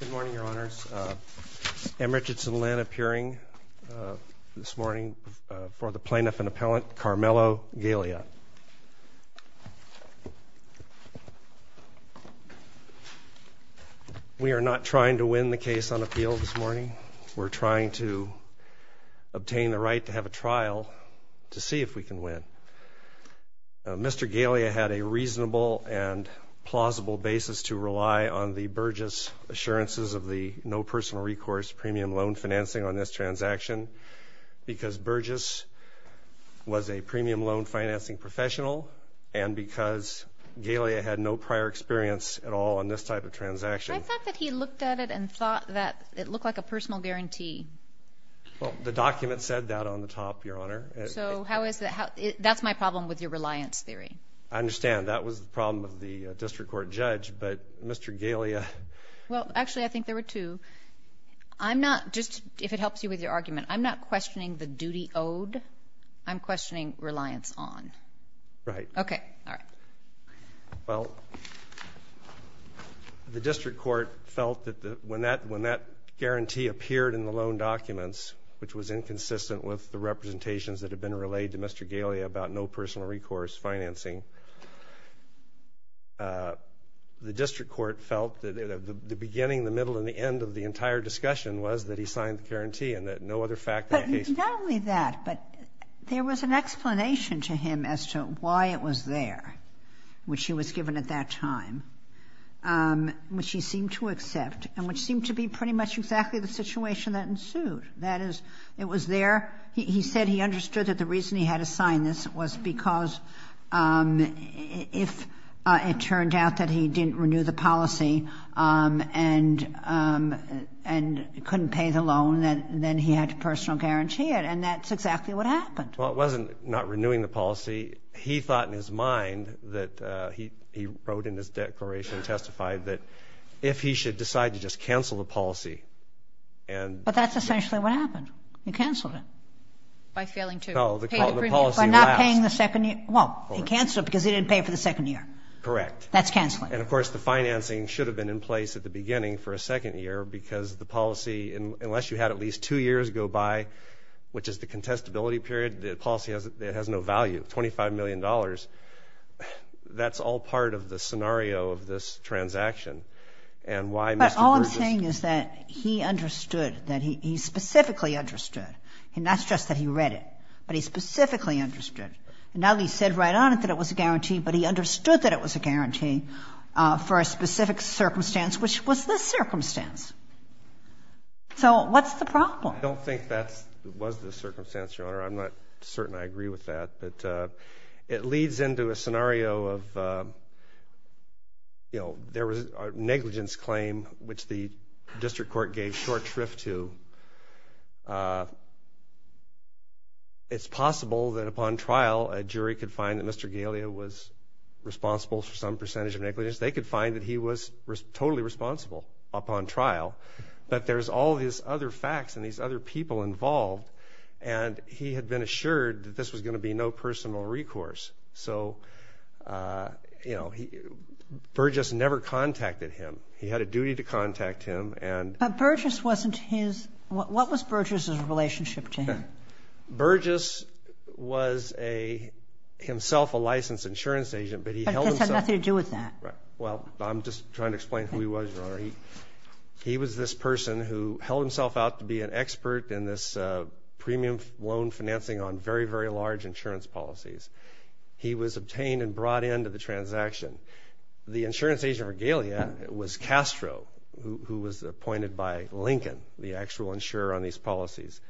Good morning, Your Honors. M. Richardson Lynn appearing this morning for the plaintiff and appellant, Carmelo Galea. We are not trying to win the case on appeal this morning. We're trying to obtain the right to have a trial to see if we can win. Mr. Galea had a reasonable and plausible basis to rely on the Burgess assurances of the no personal recourse premium loan financing on this transaction because Burgess was a premium loan financing professional and because Galea had no prior experience at all on this type of transaction. I thought that he looked at it and thought that it looked like a personal guarantee. Well, the document said that on the top, Your Honor. So how is that? That's my problem with your reliance theory. I understand. That was the problem of the district court judge, but Mr. Galea... Well, actually, I think there were two. I'm not, just if it helps you with your argument, I'm not questioning the duty owed. I'm questioning reliance on. Right. Okay. All right. Well, the district court felt that when that guarantee appeared in the loan documents, which was inconsistent with the representations that had been relayed to Mr. Galea about no personal recourse financing, the district court felt that the beginning, the middle and the end of the entire discussion was that he signed the guarantee and that no other fact... But not only that, but there was an explanation to him as to why it was there, which he was given at that time, which he seemed to accept and which seemed to be pretty much exactly the situation that ensued. That is, it was there. He said he understood that the reason he had to sign this was because if it turned out that he didn't renew the policy and couldn't pay the loan, then he had to personal guarantee it. And that's exactly what happened. Well, it wasn't not renewing the policy. He thought in his mind that he wrote in his declaration and testified that if he should decide to just cancel the policy and... But that's not paying the second year. Well, he canceled it because he didn't pay for the second year. Correct. That's canceling. And of course, the financing should have been in place at the beginning for a second year because the policy, unless you had at least two years go by, which is the contestability period, the policy has no value, $25 million. That's all part of the scenario of this transaction. And why... But all I'm saying is that he understood, he specifically understood. And that's just that he read it. But he specifically understood. And not only said right on it that it was a guarantee, but he understood that it was a guarantee for a specific circumstance, which was this circumstance. So what's the problem? I don't think that was the circumstance, Your Honor. I'm not certain I agree with that. But it leads into a scenario of, you know, there was a negligence claim, which the district court gave short shrift to. It's possible that upon trial, a jury could find that Mr. Galea was responsible for some percentage of negligence. They could find that he was totally responsible upon trial. But there's all these other facts and these other people involved. And he had been assured that this was going to be no personal recourse. So, you know, Burgess never contacted him. He had a duty to contact him. But Burgess wasn't his... What was Burgess's relationship to him? Burgess was a... himself a licensed insurance agent, but he held himself... But this had nothing to do with that. Well, I'm just trying to explain who he was, Your Honor. He was this person who held himself out to be an expert in this premium loan financing on very, very large insurance policies. He was who was appointed by Lincoln, the actual insurer on these policies.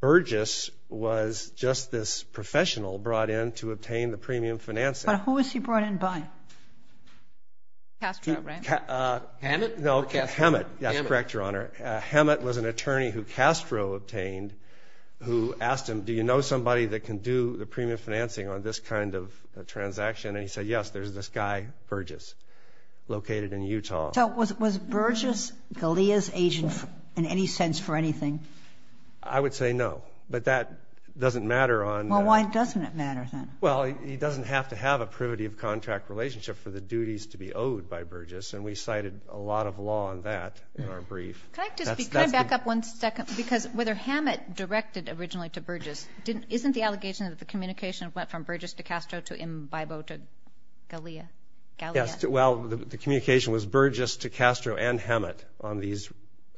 Burgess was just this professional brought in to obtain the premium financing. But who was he brought in by? Castro, right? Hammett? No, Hammett. That's correct, Your Honor. Hammett was an attorney who Castro obtained, who asked him, do you know somebody that can do the premium financing on this kind of a transaction? And he said, yes, there's this guy, Burgess, located in Utah. So was Burgess Galea's agent in any sense for anything? I would say no, but that doesn't matter on... Well, why doesn't it matter then? Well, he doesn't have to have a privity of contract relationship for the duties to be owed by Burgess, and we cited a lot of law on that in our brief. Can I back up one second? Because whether Hammett directed originally to Burgess isn't the allegation that the communication went from Burgess to Castro to Imbaibo to Galea? Yes, well, the communication was Burgess to Castro and Hammett on these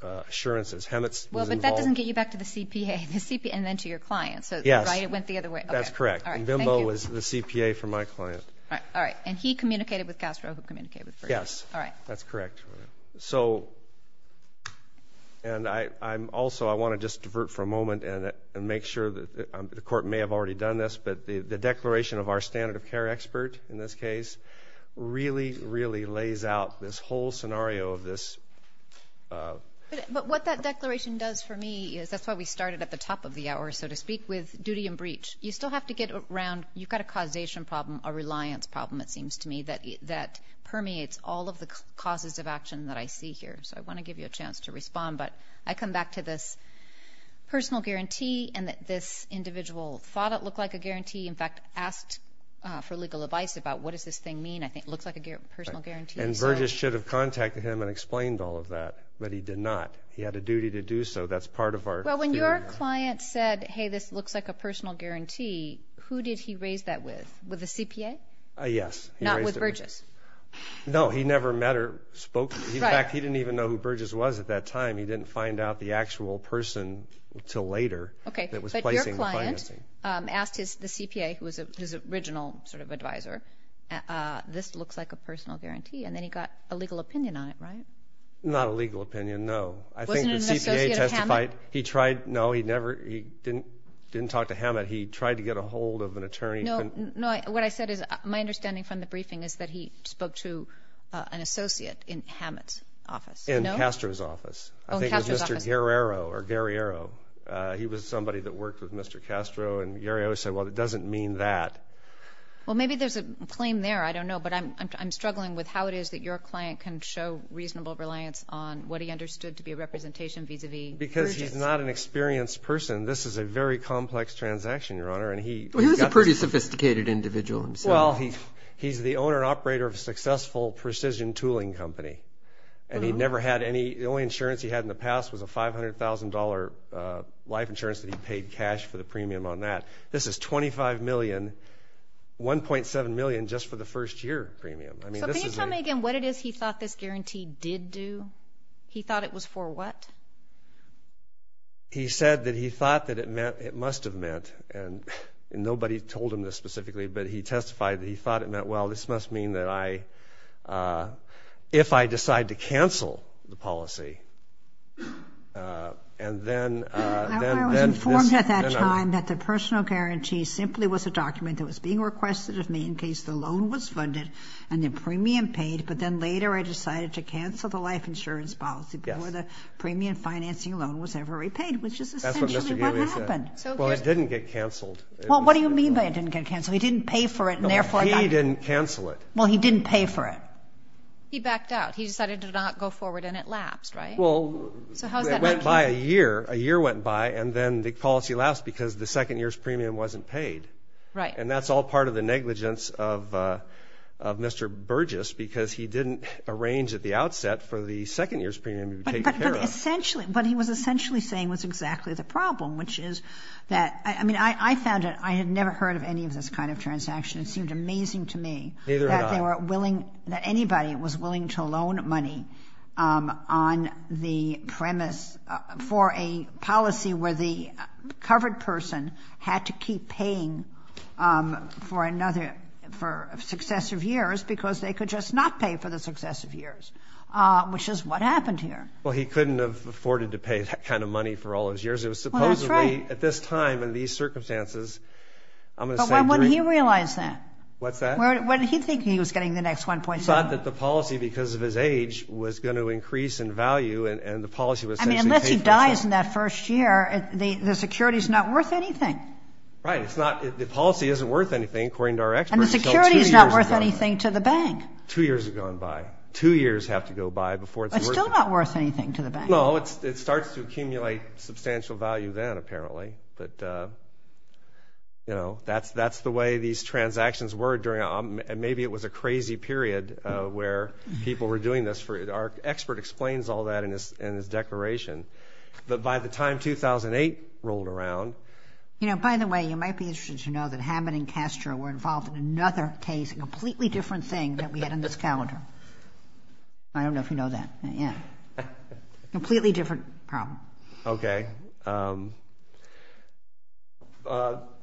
assurances. Hammett was involved... Well, but that doesn't get you back to the CPA, and then to your client, right? It went the other way. That's correct. Imbaibo was the CPA for my client. All right. And he communicated with Castro, who communicated with Burgess? Yes. All right. That's correct. So, and I'm also, I want to just but the declaration of our standard of care expert, in this case, really, really lays out this whole scenario of this... But what that declaration does for me is, that's why we started at the top of the hour, so to speak, with duty and breach. You still have to get around... you've got a causation problem, a reliance problem, it seems to me, that permeates all of the causes of action that I see here. So, I want to give you a chance to respond, but I come back to this personal in fact, asked for legal advice about what does this thing mean? I think it looks like a personal guarantee. And Burgess should have contacted him and explained all of that, but he did not. He had a duty to do so. That's part of our... Well, when your client said, hey, this looks like a personal guarantee, who did he raise that with? With the CPA? Yes. Not with Burgess? No, he never met or spoke... In fact, he didn't even know who Burgess was at that time. He didn't find out the actual person until later that was placing the financing. Okay, but your client asked the CPA, who was his original sort of advisor, this looks like a personal guarantee, and then he got a legal opinion on it, right? Not a legal opinion, no. I think the CPA testified... Wasn't it an associate of Hammett? He tried... no, he never... he didn't talk to Hammett. He tried to get a hold of an attorney... No, what I said is, my understanding from the briefing is that he spoke to an associate in Hammett's office. In Castro's office. Oh, in Castro's office. I think it was Mr. Guerrero or Guerriero. He was somebody that worked with Mr. Castro, and Guerrero said, well, it doesn't mean that. Well, maybe there's a claim there, I don't know, but I'm struggling with how it is that your client can show reasonable reliance on what he understood to be a representation vis-a-vis Burgess. Because he's not an experienced person, this is a very complex transaction, Your Honor, and he... Well, he was a pretty sophisticated individual himself. Well, he's the owner and operator of a successful precision tooling company, and he never had any... the only insurance he had in the past was a $500,000 life insurance that he paid cash for the premium on that. This is $25 million, $1.7 million just for the first year premium. So, can you tell me again what it is he thought this guarantee did do? He thought it was for what? He said that he thought that it meant... it must have meant, and nobody told him this specifically, but he testified that he thought it meant, well, this must mean that I... if I decide to cancel the policy, and then... I was informed at that time that the personal guarantee simply was a document that was being requested of me in case the loan was funded and the premium paid, but then later I decided to cancel the life insurance policy before the premium financing loan was ever repaid, which is essentially what happened. That's what Mr. Gailey said. Well, it didn't get canceled. Well, what do you mean by it didn't get canceled? He didn't pay for it, and therefore... No, he didn't cancel it. Well, he didn't pay for it. He backed out. He decided to not go forward, and it lapsed, right? Well... So, how does that... It went by a year. A year went by, and then the policy lapsed because the second year's premium wasn't paid. Right. And that's all part of the negligence of Mr. Burgess because he didn't arrange at the outset for the second year's premium to be taken care of. But essentially... but he was essentially saying was exactly the problem, which is that... I mean, I found it... I had never heard of any of this kind of transaction. It seemed amazing to me... Well, he couldn't have afforded to pay that kind of money for all those years. It was supposedly... Well, that's right.... at this time and these circumstances, I'm going to say... But when he realized that... What's that? What did he think he was getting the next 1.7? He thought that the policy, because of his age, was going to increase in value, and the policy was essentially paid for itself. I mean, unless he dies in that first year, the security's not worth anything. Right. It's not... The policy isn't worth anything, according to our experts. And the security's not worth anything to the bank. Two years have gone by. Two years have to go by before it's worth anything. It's still not worth anything to the bank. No, it starts to accumulate substantial value then, apparently. But, you know, that's the way these transactions were during... And maybe it was a crazy period where people were doing this for... Our expert explains all that in his declaration. But by the time 2008 rolled around... You know, by the way, you might be interested to know that Hammond and Castro were involved in another case, a completely different thing that we had on this calendar. I don't know if you know that yet. Completely different problem. Okay.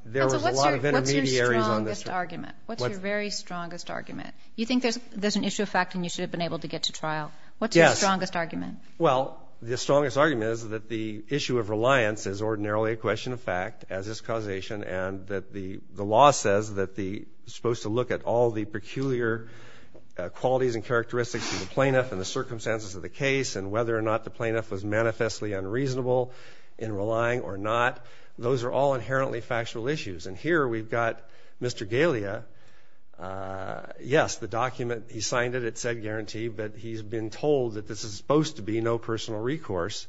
There was a lot of intermediaries on this... What's your strongest argument? What's your very strongest argument? You think there's an issue of fact and you should have been able to get to trial. Yes. What's your strongest argument? Well, the strongest argument is that the issue of reliance is ordinarily a question of fact, as is causation, and that the law says that the... supposed to look at all the peculiar qualities and characteristics of the plaintiff and the circumstances of the case and whether or not the plaintiff was manifestly unreasonable in relying or not. Those are all inherently factual issues. And here we've got Mr. Galea. Yes, the document, he signed it. It said guaranteed, but he's been told that this is supposed to be no personal recourse.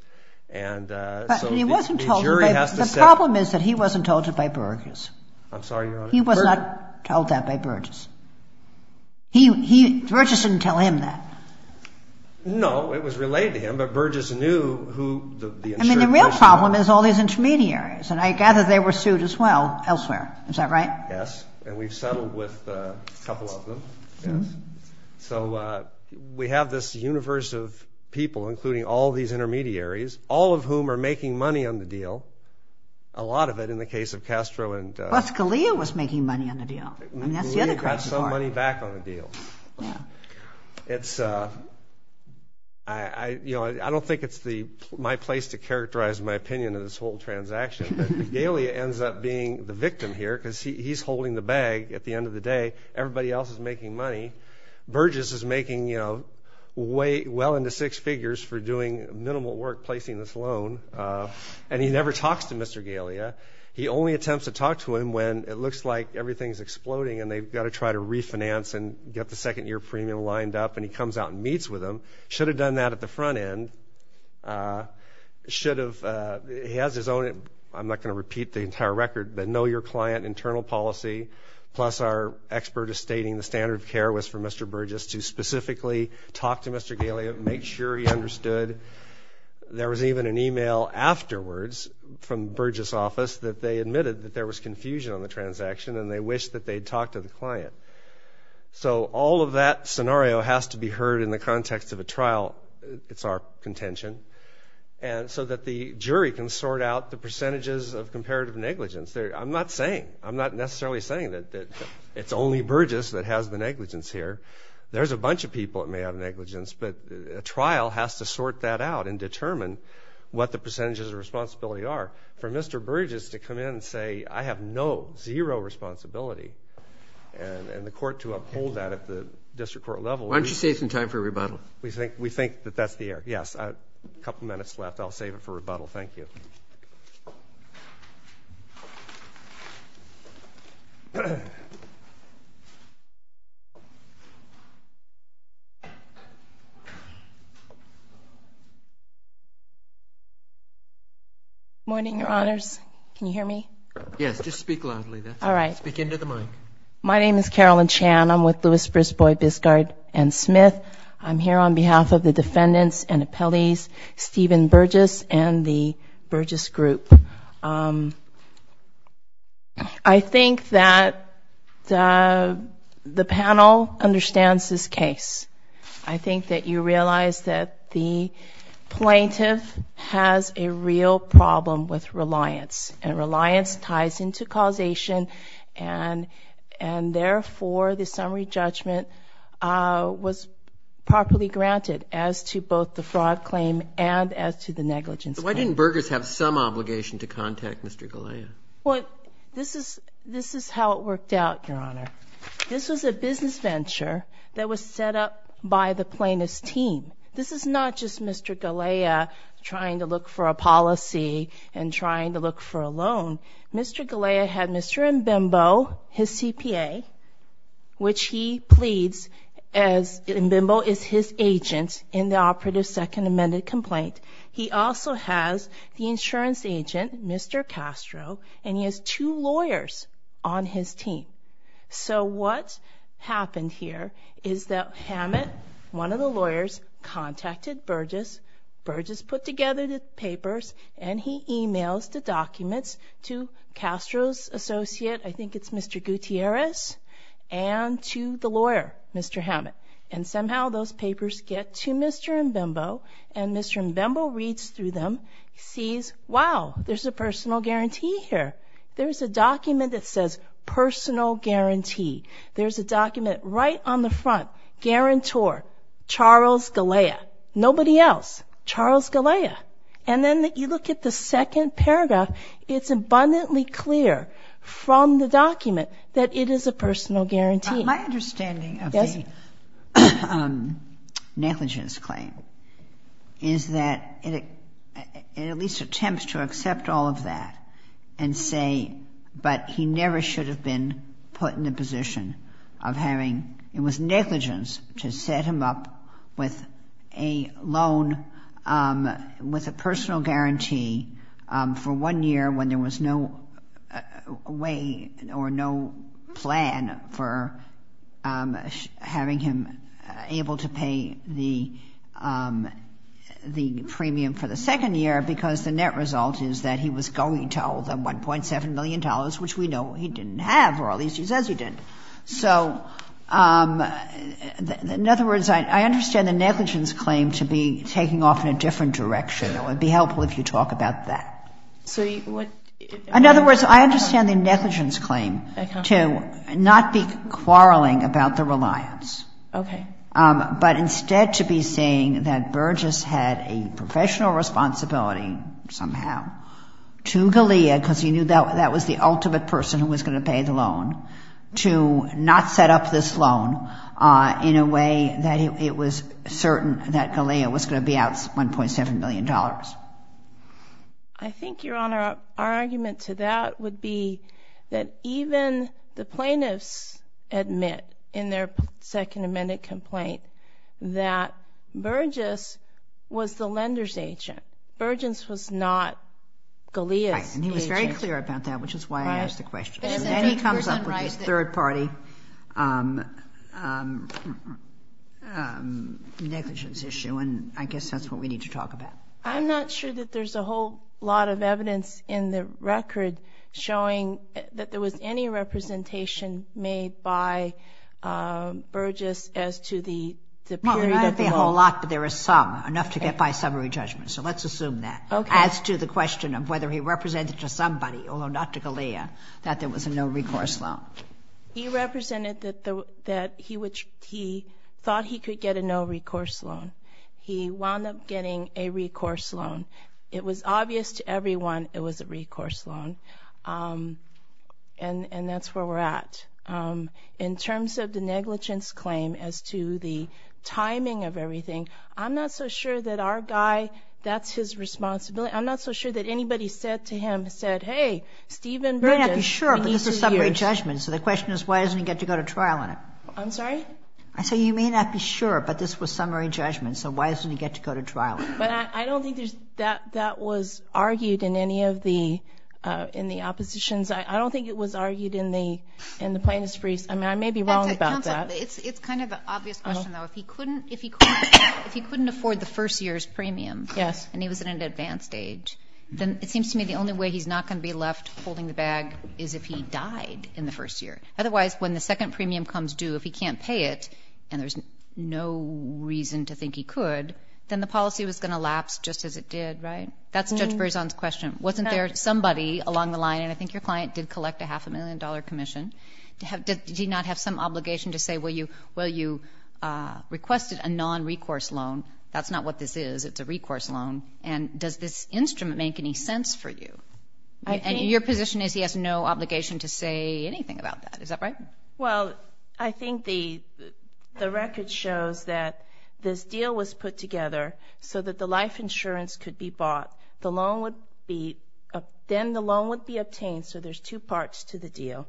And so the jury has to say... I'm sorry, Your Honor. He was not told that by Burgess. Burgess didn't tell him that. No, it was related to him, but Burgess knew who... I mean, the real problem is all these intermediaries, and I gather they were sued as well elsewhere. Is that right? Yes, and we've settled with a couple of them. So we have this universe of people, including all these intermediaries, all of whom are making money on the deal, a lot of it in the case of Castro and... But Galea was making money on the deal. I mean, that's the other question. Galea got some money back on the deal. I don't think it's my place to characterize my opinion of this whole transaction, but Galea ends up being the victim here because he's holding the bag at the end of the day. Everybody else is making money. Burgess is making well into six figures for doing minimal work placing this loan, and he never talks to Mr. Galea. He only attempts to talk to him when it looks like everything is exploding and they've got to try to refinance and get the second-year premium lined up, and he comes out and meets with him. Should have done that at the front end. Should have... he has his own... I'm not going to repeat the entire record, but know your client internal policy, plus our expert is stating the standard of care was for Mr. Burgess to specifically talk to Mr. Galea, make sure he understood. There was even an email afterwards from Burgess' office that they admitted that there was confusion on the transaction and they wished that they'd talked to the client. So all of that scenario has to be heard in the context of a trial. It's our contention. And so that the jury can sort out the percentages of comparative negligence. I'm not saying, I'm not necessarily saying that it's only Burgess that has the negligence here. There's a bunch of people that may have negligence, but a trial has to sort that out and determine what the percentages of responsibility are. For Mr. Burgess to come in and say, I have no, zero responsibility, and the court to uphold that at the district court level... Why don't you save some time for rebuttal? We think that that's the error. Yes, a couple minutes left. I'll save it for rebuttal. Thank you. Good morning, Your Honors. Can you hear me? Yes, just speak loudly. All right. Speak into the mic. My name is Carolyn Chan. I'm with Lewis, Brisbois, Biscard, and Smith. I'm here on behalf of the defendants and appellees, Stephen Burgess and the Burgess Group. I think that the panel understands this case. I think that you realize that the plaintiff has a real problem with reliance, and reliance ties into causation, and therefore the summary judgment was properly granted as to both the fraud claim and as to the negligence claim. Why didn't Burgess have some obligation to contact Mr. Galea? Well, this is how it worked out, Your Honor. This was a business venture that was set up by the plaintiff's team. This is not just Mr. Galea trying to look for a policy and trying to look for a loan. Mr. Galea had Mr. Mbembo, his CPA, which he pleads as Mbembo is his agent in the operative second amended complaint. He also has the insurance agent, Mr. Castro, and he has two lawyers on his team. So what happened here is that Hammett, one of the lawyers, contacted Burgess, Burgess put together the papers, and he emails the documents to Castro's associate, I think it's Mr. Gutierrez, and to the lawyer, Mr. Hammett. And somehow those papers get to Mr. Mbembo, and Mr. Mbembo reads through them, sees, wow, there's a personal guarantee here. There's a document that says personal guarantee. There's a document right on the front, guarantor, Charles Galea, nobody else, Charles Galea. And then you look at the second paragraph, it's abundantly clear from the document that it is a personal guarantee. My understanding of the negligence claim is that it at least attempts to accept all of that and say, but he never should have been put in the position of having, it was negligence to set him up with a loan, with a personal guarantee for one year when there was no way or no plan for having him able to pay the premium for the second year because the net result is that he was going to owe the $1.7 million, which we know he didn't have, or at least he says he didn't. So in other words, I understand the negligence claim to be taking off in a different direction. It would be helpful if you talk about that. In other words, I understand the negligence claim to not be quarreling about the reliance, but instead to be saying that Burgess had a professional responsibility somehow to Galea, because he knew that was the ultimate person who was going to pay the loan, to not set up this loan in a way that it was certain that Galea was going to be out $1.7 million. I think, Your Honor, our argument to that would be that even the plaintiffs admit in their second amended complaint that Burgess was the lender's agent. Burgess was not Galea's agent. And he was very clear about that, which is why I asked the question. Then he comes up with his third-party negligence issue, and I guess that's what we need to talk about. I'm not sure that there's a whole lot of evidence in the record showing that there was any representation made by Burgess as to the period of the loan. Well, not a whole lot, but there is some, enough to get by summary judgment, so let's assume that. As to the question of whether he represented to somebody, although not to Galea, that there was a no-recourse loan. He represented that he thought he could get a no-recourse loan. He wound up getting a recourse loan. It was obvious to everyone it was a recourse loan, and that's where we're at. In terms of the negligence claim as to the timing of everything, I'm not so sure that our guy, that's his responsibility. I'm not so sure that anybody said to him, said, hey, Stephen Burgess. You may not be sure, but this was summary judgment, so the question is why doesn't he get to go to trial on it? I'm sorry? I said you may not be sure, but this was summary judgment, so why doesn't he get to go to trial on it? But I don't think that was argued in any of the oppositions. I don't think it was argued in the plaintiff's briefs. I may be wrong about that. Counsel, it's kind of an obvious question, though. If he couldn't afford the first year's premium and he was at an advanced age, then it seems to me the only way he's not going to be left holding the bag is if he died in the first year. Otherwise, when the second premium comes due, if he can't pay it, and there's no reason to think he could, then the policy was going to lapse just as it did, right? That's Judge Berzon's question. Wasn't there somebody along the line, and I think your client did collect a half-a-million-dollar commission. Did he not have some obligation to say, well, you requested a non-recourse loan. That's not what this is. It's a recourse loan. And does this instrument make any sense for you? Your position is he has no obligation to say anything about that. Is that right? Well, I think the record shows that this deal was put together so that the life insurance could be bought. Then the loan would be obtained, so there's two parts to the deal.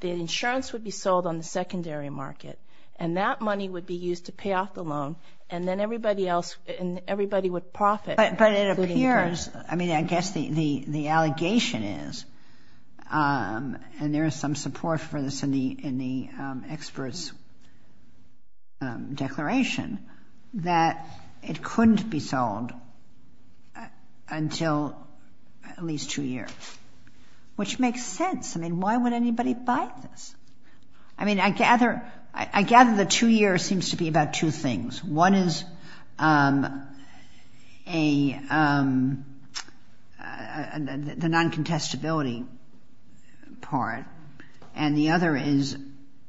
The insurance would be sold on the secondary market, and that money would be used to pay off the loan, and then everybody would profit. But it appears, I mean, I guess the allegation is, and there is some support for this in the expert's declaration, that it couldn't be sold until at least two years, which makes sense. I mean, why would anybody buy this? I mean, I gather the two years seems to be about two things. One is the non-contestability part, and the other is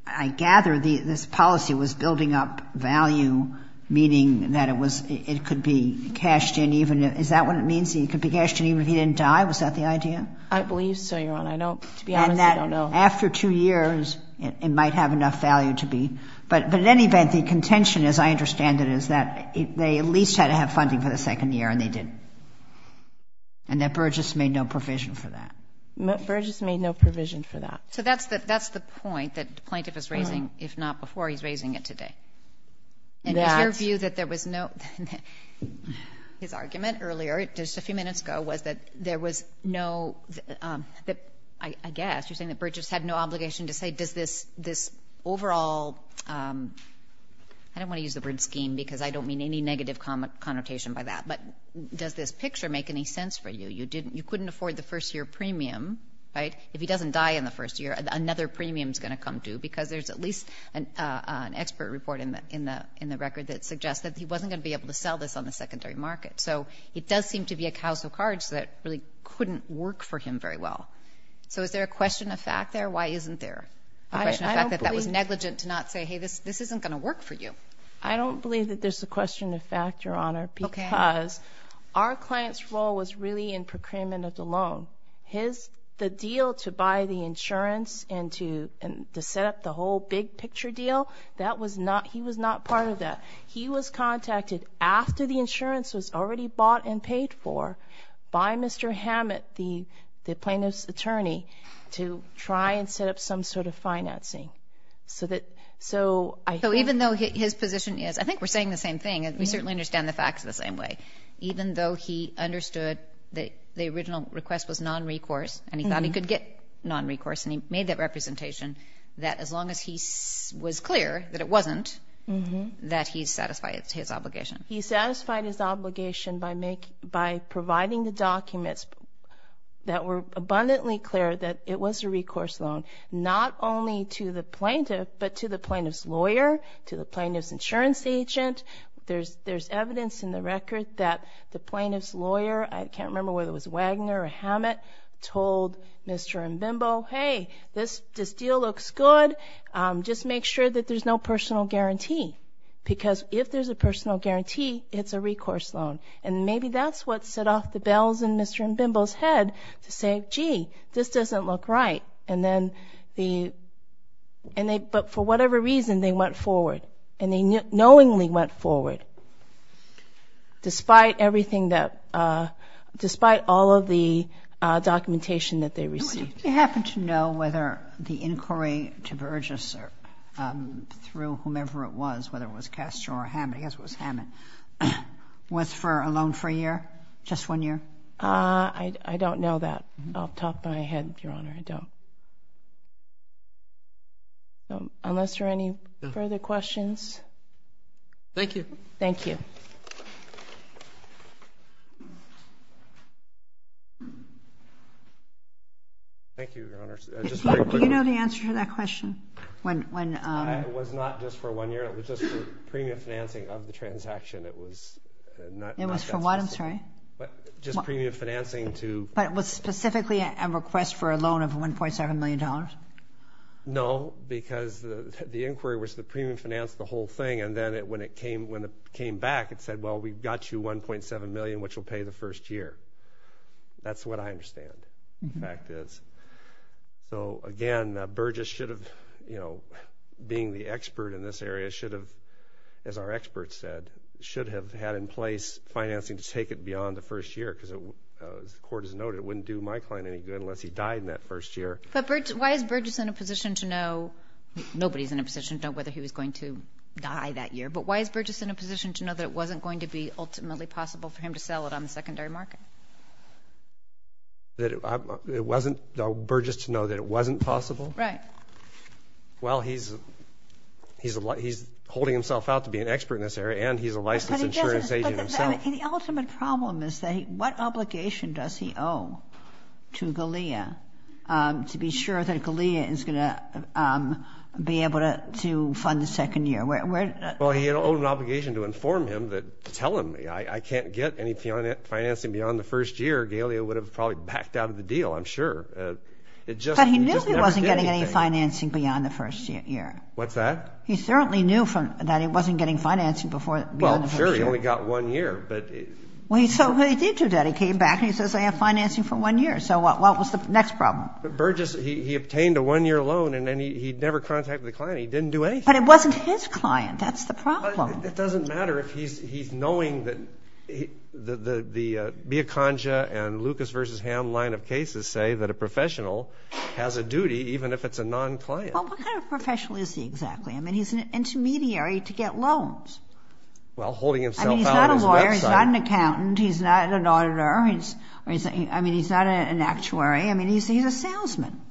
I gather this policy was building up value, meaning that it could be cashed in even if he didn't die. Was that the idea? I believe so, Your Honor. I don't, to be honest, I don't know. And that after two years, it might have enough value to be. But in any event, the contention, as I understand it, is that they at least had to have funding for the second year, and they didn't, and that Burgess made no provision for that. Burgess made no provision for that. So that's the point that the plaintiff is raising, if not before, he's raising it today. And is your view that there was no, his argument earlier, just a few minutes ago, was that there was no, I guess you're saying that Burgess had no obligation to say does this overall, I don't want to use the word scheme because I don't mean any negative connotation by that, but does this picture make any sense for you? You couldn't afford the first year premium, right? If he doesn't die in the first year, another premium is going to come due because there's at least an expert report in the record that suggests that he wasn't going to be able to sell this on the secondary market. So it does seem to be a case of cards that really couldn't work for him very well. So is there a question of fact there? Why isn't there a question of fact that that was negligent to not say, hey, this isn't going to work for you? I don't believe that there's a question of fact, Your Honor, because our client's role was really in procurement of the loan. The deal to buy the insurance and to set up the whole big picture deal, that was not, he was not part of that. He was contacted after the insurance was already bought and paid for by Mr. Hammett, the plaintiff's attorney, to try and set up some sort of financing. So even though his position is, I think we're saying the same thing, and we certainly understand the facts the same way, even though he understood that the original request was non-recourse and he thought he could get non-recourse and he made that representation that as long as he was clear that it wasn't, that he satisfied his obligation. He satisfied his obligation by providing the documents that were abundantly clear that it was a recourse loan, not only to the plaintiff, but to the plaintiff's lawyer, to the plaintiff's insurance agent. There's evidence in the record that the plaintiff's lawyer, I can't remember whether it was Wagner or Hammett, told Mr. Mbimbo, hey, this deal looks good, just make sure that there's no personal guarantee. Because if there's a personal guarantee, it's a recourse loan. And maybe that's what set off the bells in Mr. Mbimbo's head to say, gee, this doesn't look right. And then, but for whatever reason, they went forward. And they knowingly went forward despite everything that, despite all of the documentation that they received. Do you happen to know whether the inquiry to Burgess or through whomever it was, whether it was Castro or Hammett, I guess it was Hammett, was for a loan for a year, just one year? I don't know that off the top of my head, Your Honor, I don't. Unless there are any further questions? Thank you. Thank you. Thank you, Your Honor. Do you know the answer to that question? It was not just for one year, it was just for premium financing of the transaction. It was not that specific. It was for what, I'm sorry? Just premium financing to. But it was specifically a request for a loan of $1.7 million? No, because the inquiry was the premium financed the whole thing. And then when it came back, it said, well, we've got you $1.7 million, which will pay the first year. That's what I understand the fact is. So, again, Burgess should have, you know, being the expert in this area, should have, as our expert said, should have had in place financing to take it beyond the first year because, as the court has noted, it wouldn't do my client any good unless he died in that first year. But why is Burgess in a position to know, nobody's in a position to know whether he was going to die that year, but why is Burgess in a position to know that it wasn't going to be ultimately possible for him to sell it on the secondary market? It wasn't Burgess to know that it wasn't possible? Right. Well, he's holding himself out to be an expert in this area, and he's a licensed insurance agent himself. But the ultimate problem is that what obligation does he owe to Galea to be sure that Galea is going to be able to fund the second year? Well, he owed an obligation to inform him to tell him, I can't get any financing beyond the first year. Galea would have probably backed out of the deal, I'm sure. But he knew he wasn't getting any financing beyond the first year. What's that? He certainly knew that he wasn't getting financing beyond the first year. Well, sure, he only got one year. Well, he did do that. He came back and he says, I have financing for one year. So what was the next problem? Burgess, he obtained a one-year loan, and he never contacted the client. He didn't do anything. But it wasn't his client. That's the problem. It doesn't matter if he's knowing that the Biaconga and Lucas v. Hamm line of cases say that a professional has a duty even if it's a non-client. Well, what kind of professional is he exactly? I mean, he's an intermediary to get loans. Well, holding himself out on his website. I mean, he's not a lawyer. He's not an accountant. He's not an auditor. I mean, he's not an actuary. I mean, he's a salesman.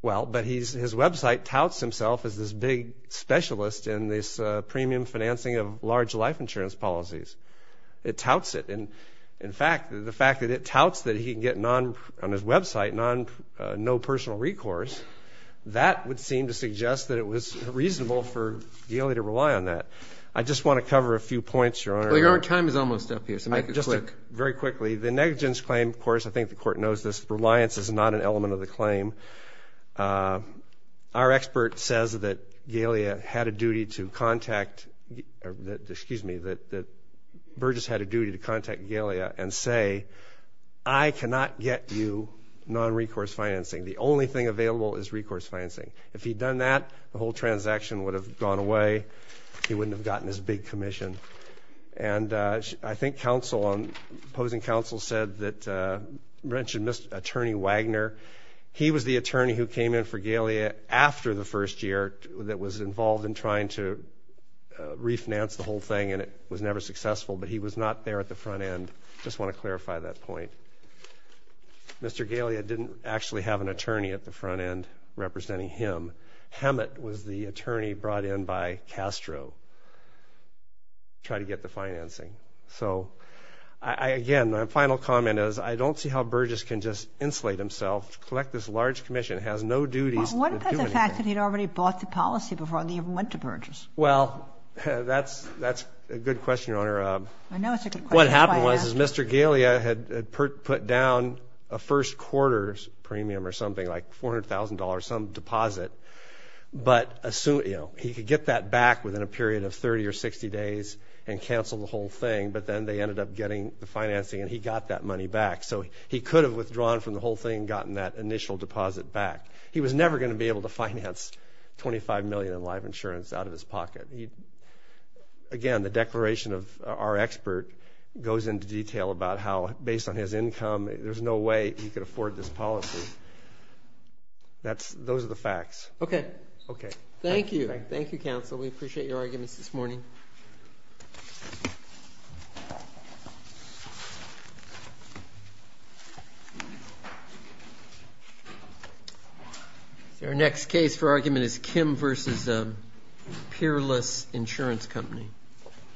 Well, but his website touts himself as this big specialist in this premium financing of large life insurance policies. It touts it. In fact, the fact that it touts that he can get on his website no personal recourse, that would seem to suggest that it was reasonable for Galey to rely on that. I just want to cover a few points, Your Honor. Well, Your Honor, time is almost up here, so make it quick. Very quickly. The negligence claim, of course, I think the Court knows this. Reliance is not an element of the claim. Our expert says that Berges had a duty to contact Galey and say, I cannot get you non-recourse financing. The only thing available is recourse financing. If he'd done that, the whole transaction would have gone away. He wouldn't have gotten this big commission. And I think counsel, opposing counsel said that, mentioned Mr. Attorney Wagner. He was the attorney who came in for Galey after the first year that was involved in trying to refinance the whole thing, and it was never successful. But he was not there at the front end. I just want to clarify that point. Mr. Galey didn't actually have an attorney at the front end representing him. Hammett was the attorney brought in by Castro to try to get the financing. So, again, my final comment is I don't see how Berges can just insulate himself, collect this large commission, has no duties. What about the fact that he'd already bought the policy before they even went to Berges? Well, that's a good question, Your Honor. I know it's a good question. What happened was Mr. Galey had put down a first quarter premium or something, like $400,000, some deposit. But he could get that back within a period of 30 or 60 days and cancel the whole thing. But then they ended up getting the financing, and he got that money back. So he could have withdrawn from the whole thing and gotten that initial deposit back. He was never going to be able to finance $25 million in live insurance out of his pocket. Again, the declaration of our expert goes into detail about how, based on his income, there's no way he could afford this policy. Those are the facts. Okay. Thank you. Thank you, counsel. We appreciate your arguments this morning. Thank you. Our next case for argument is Kim v. Peerless Insurance Company.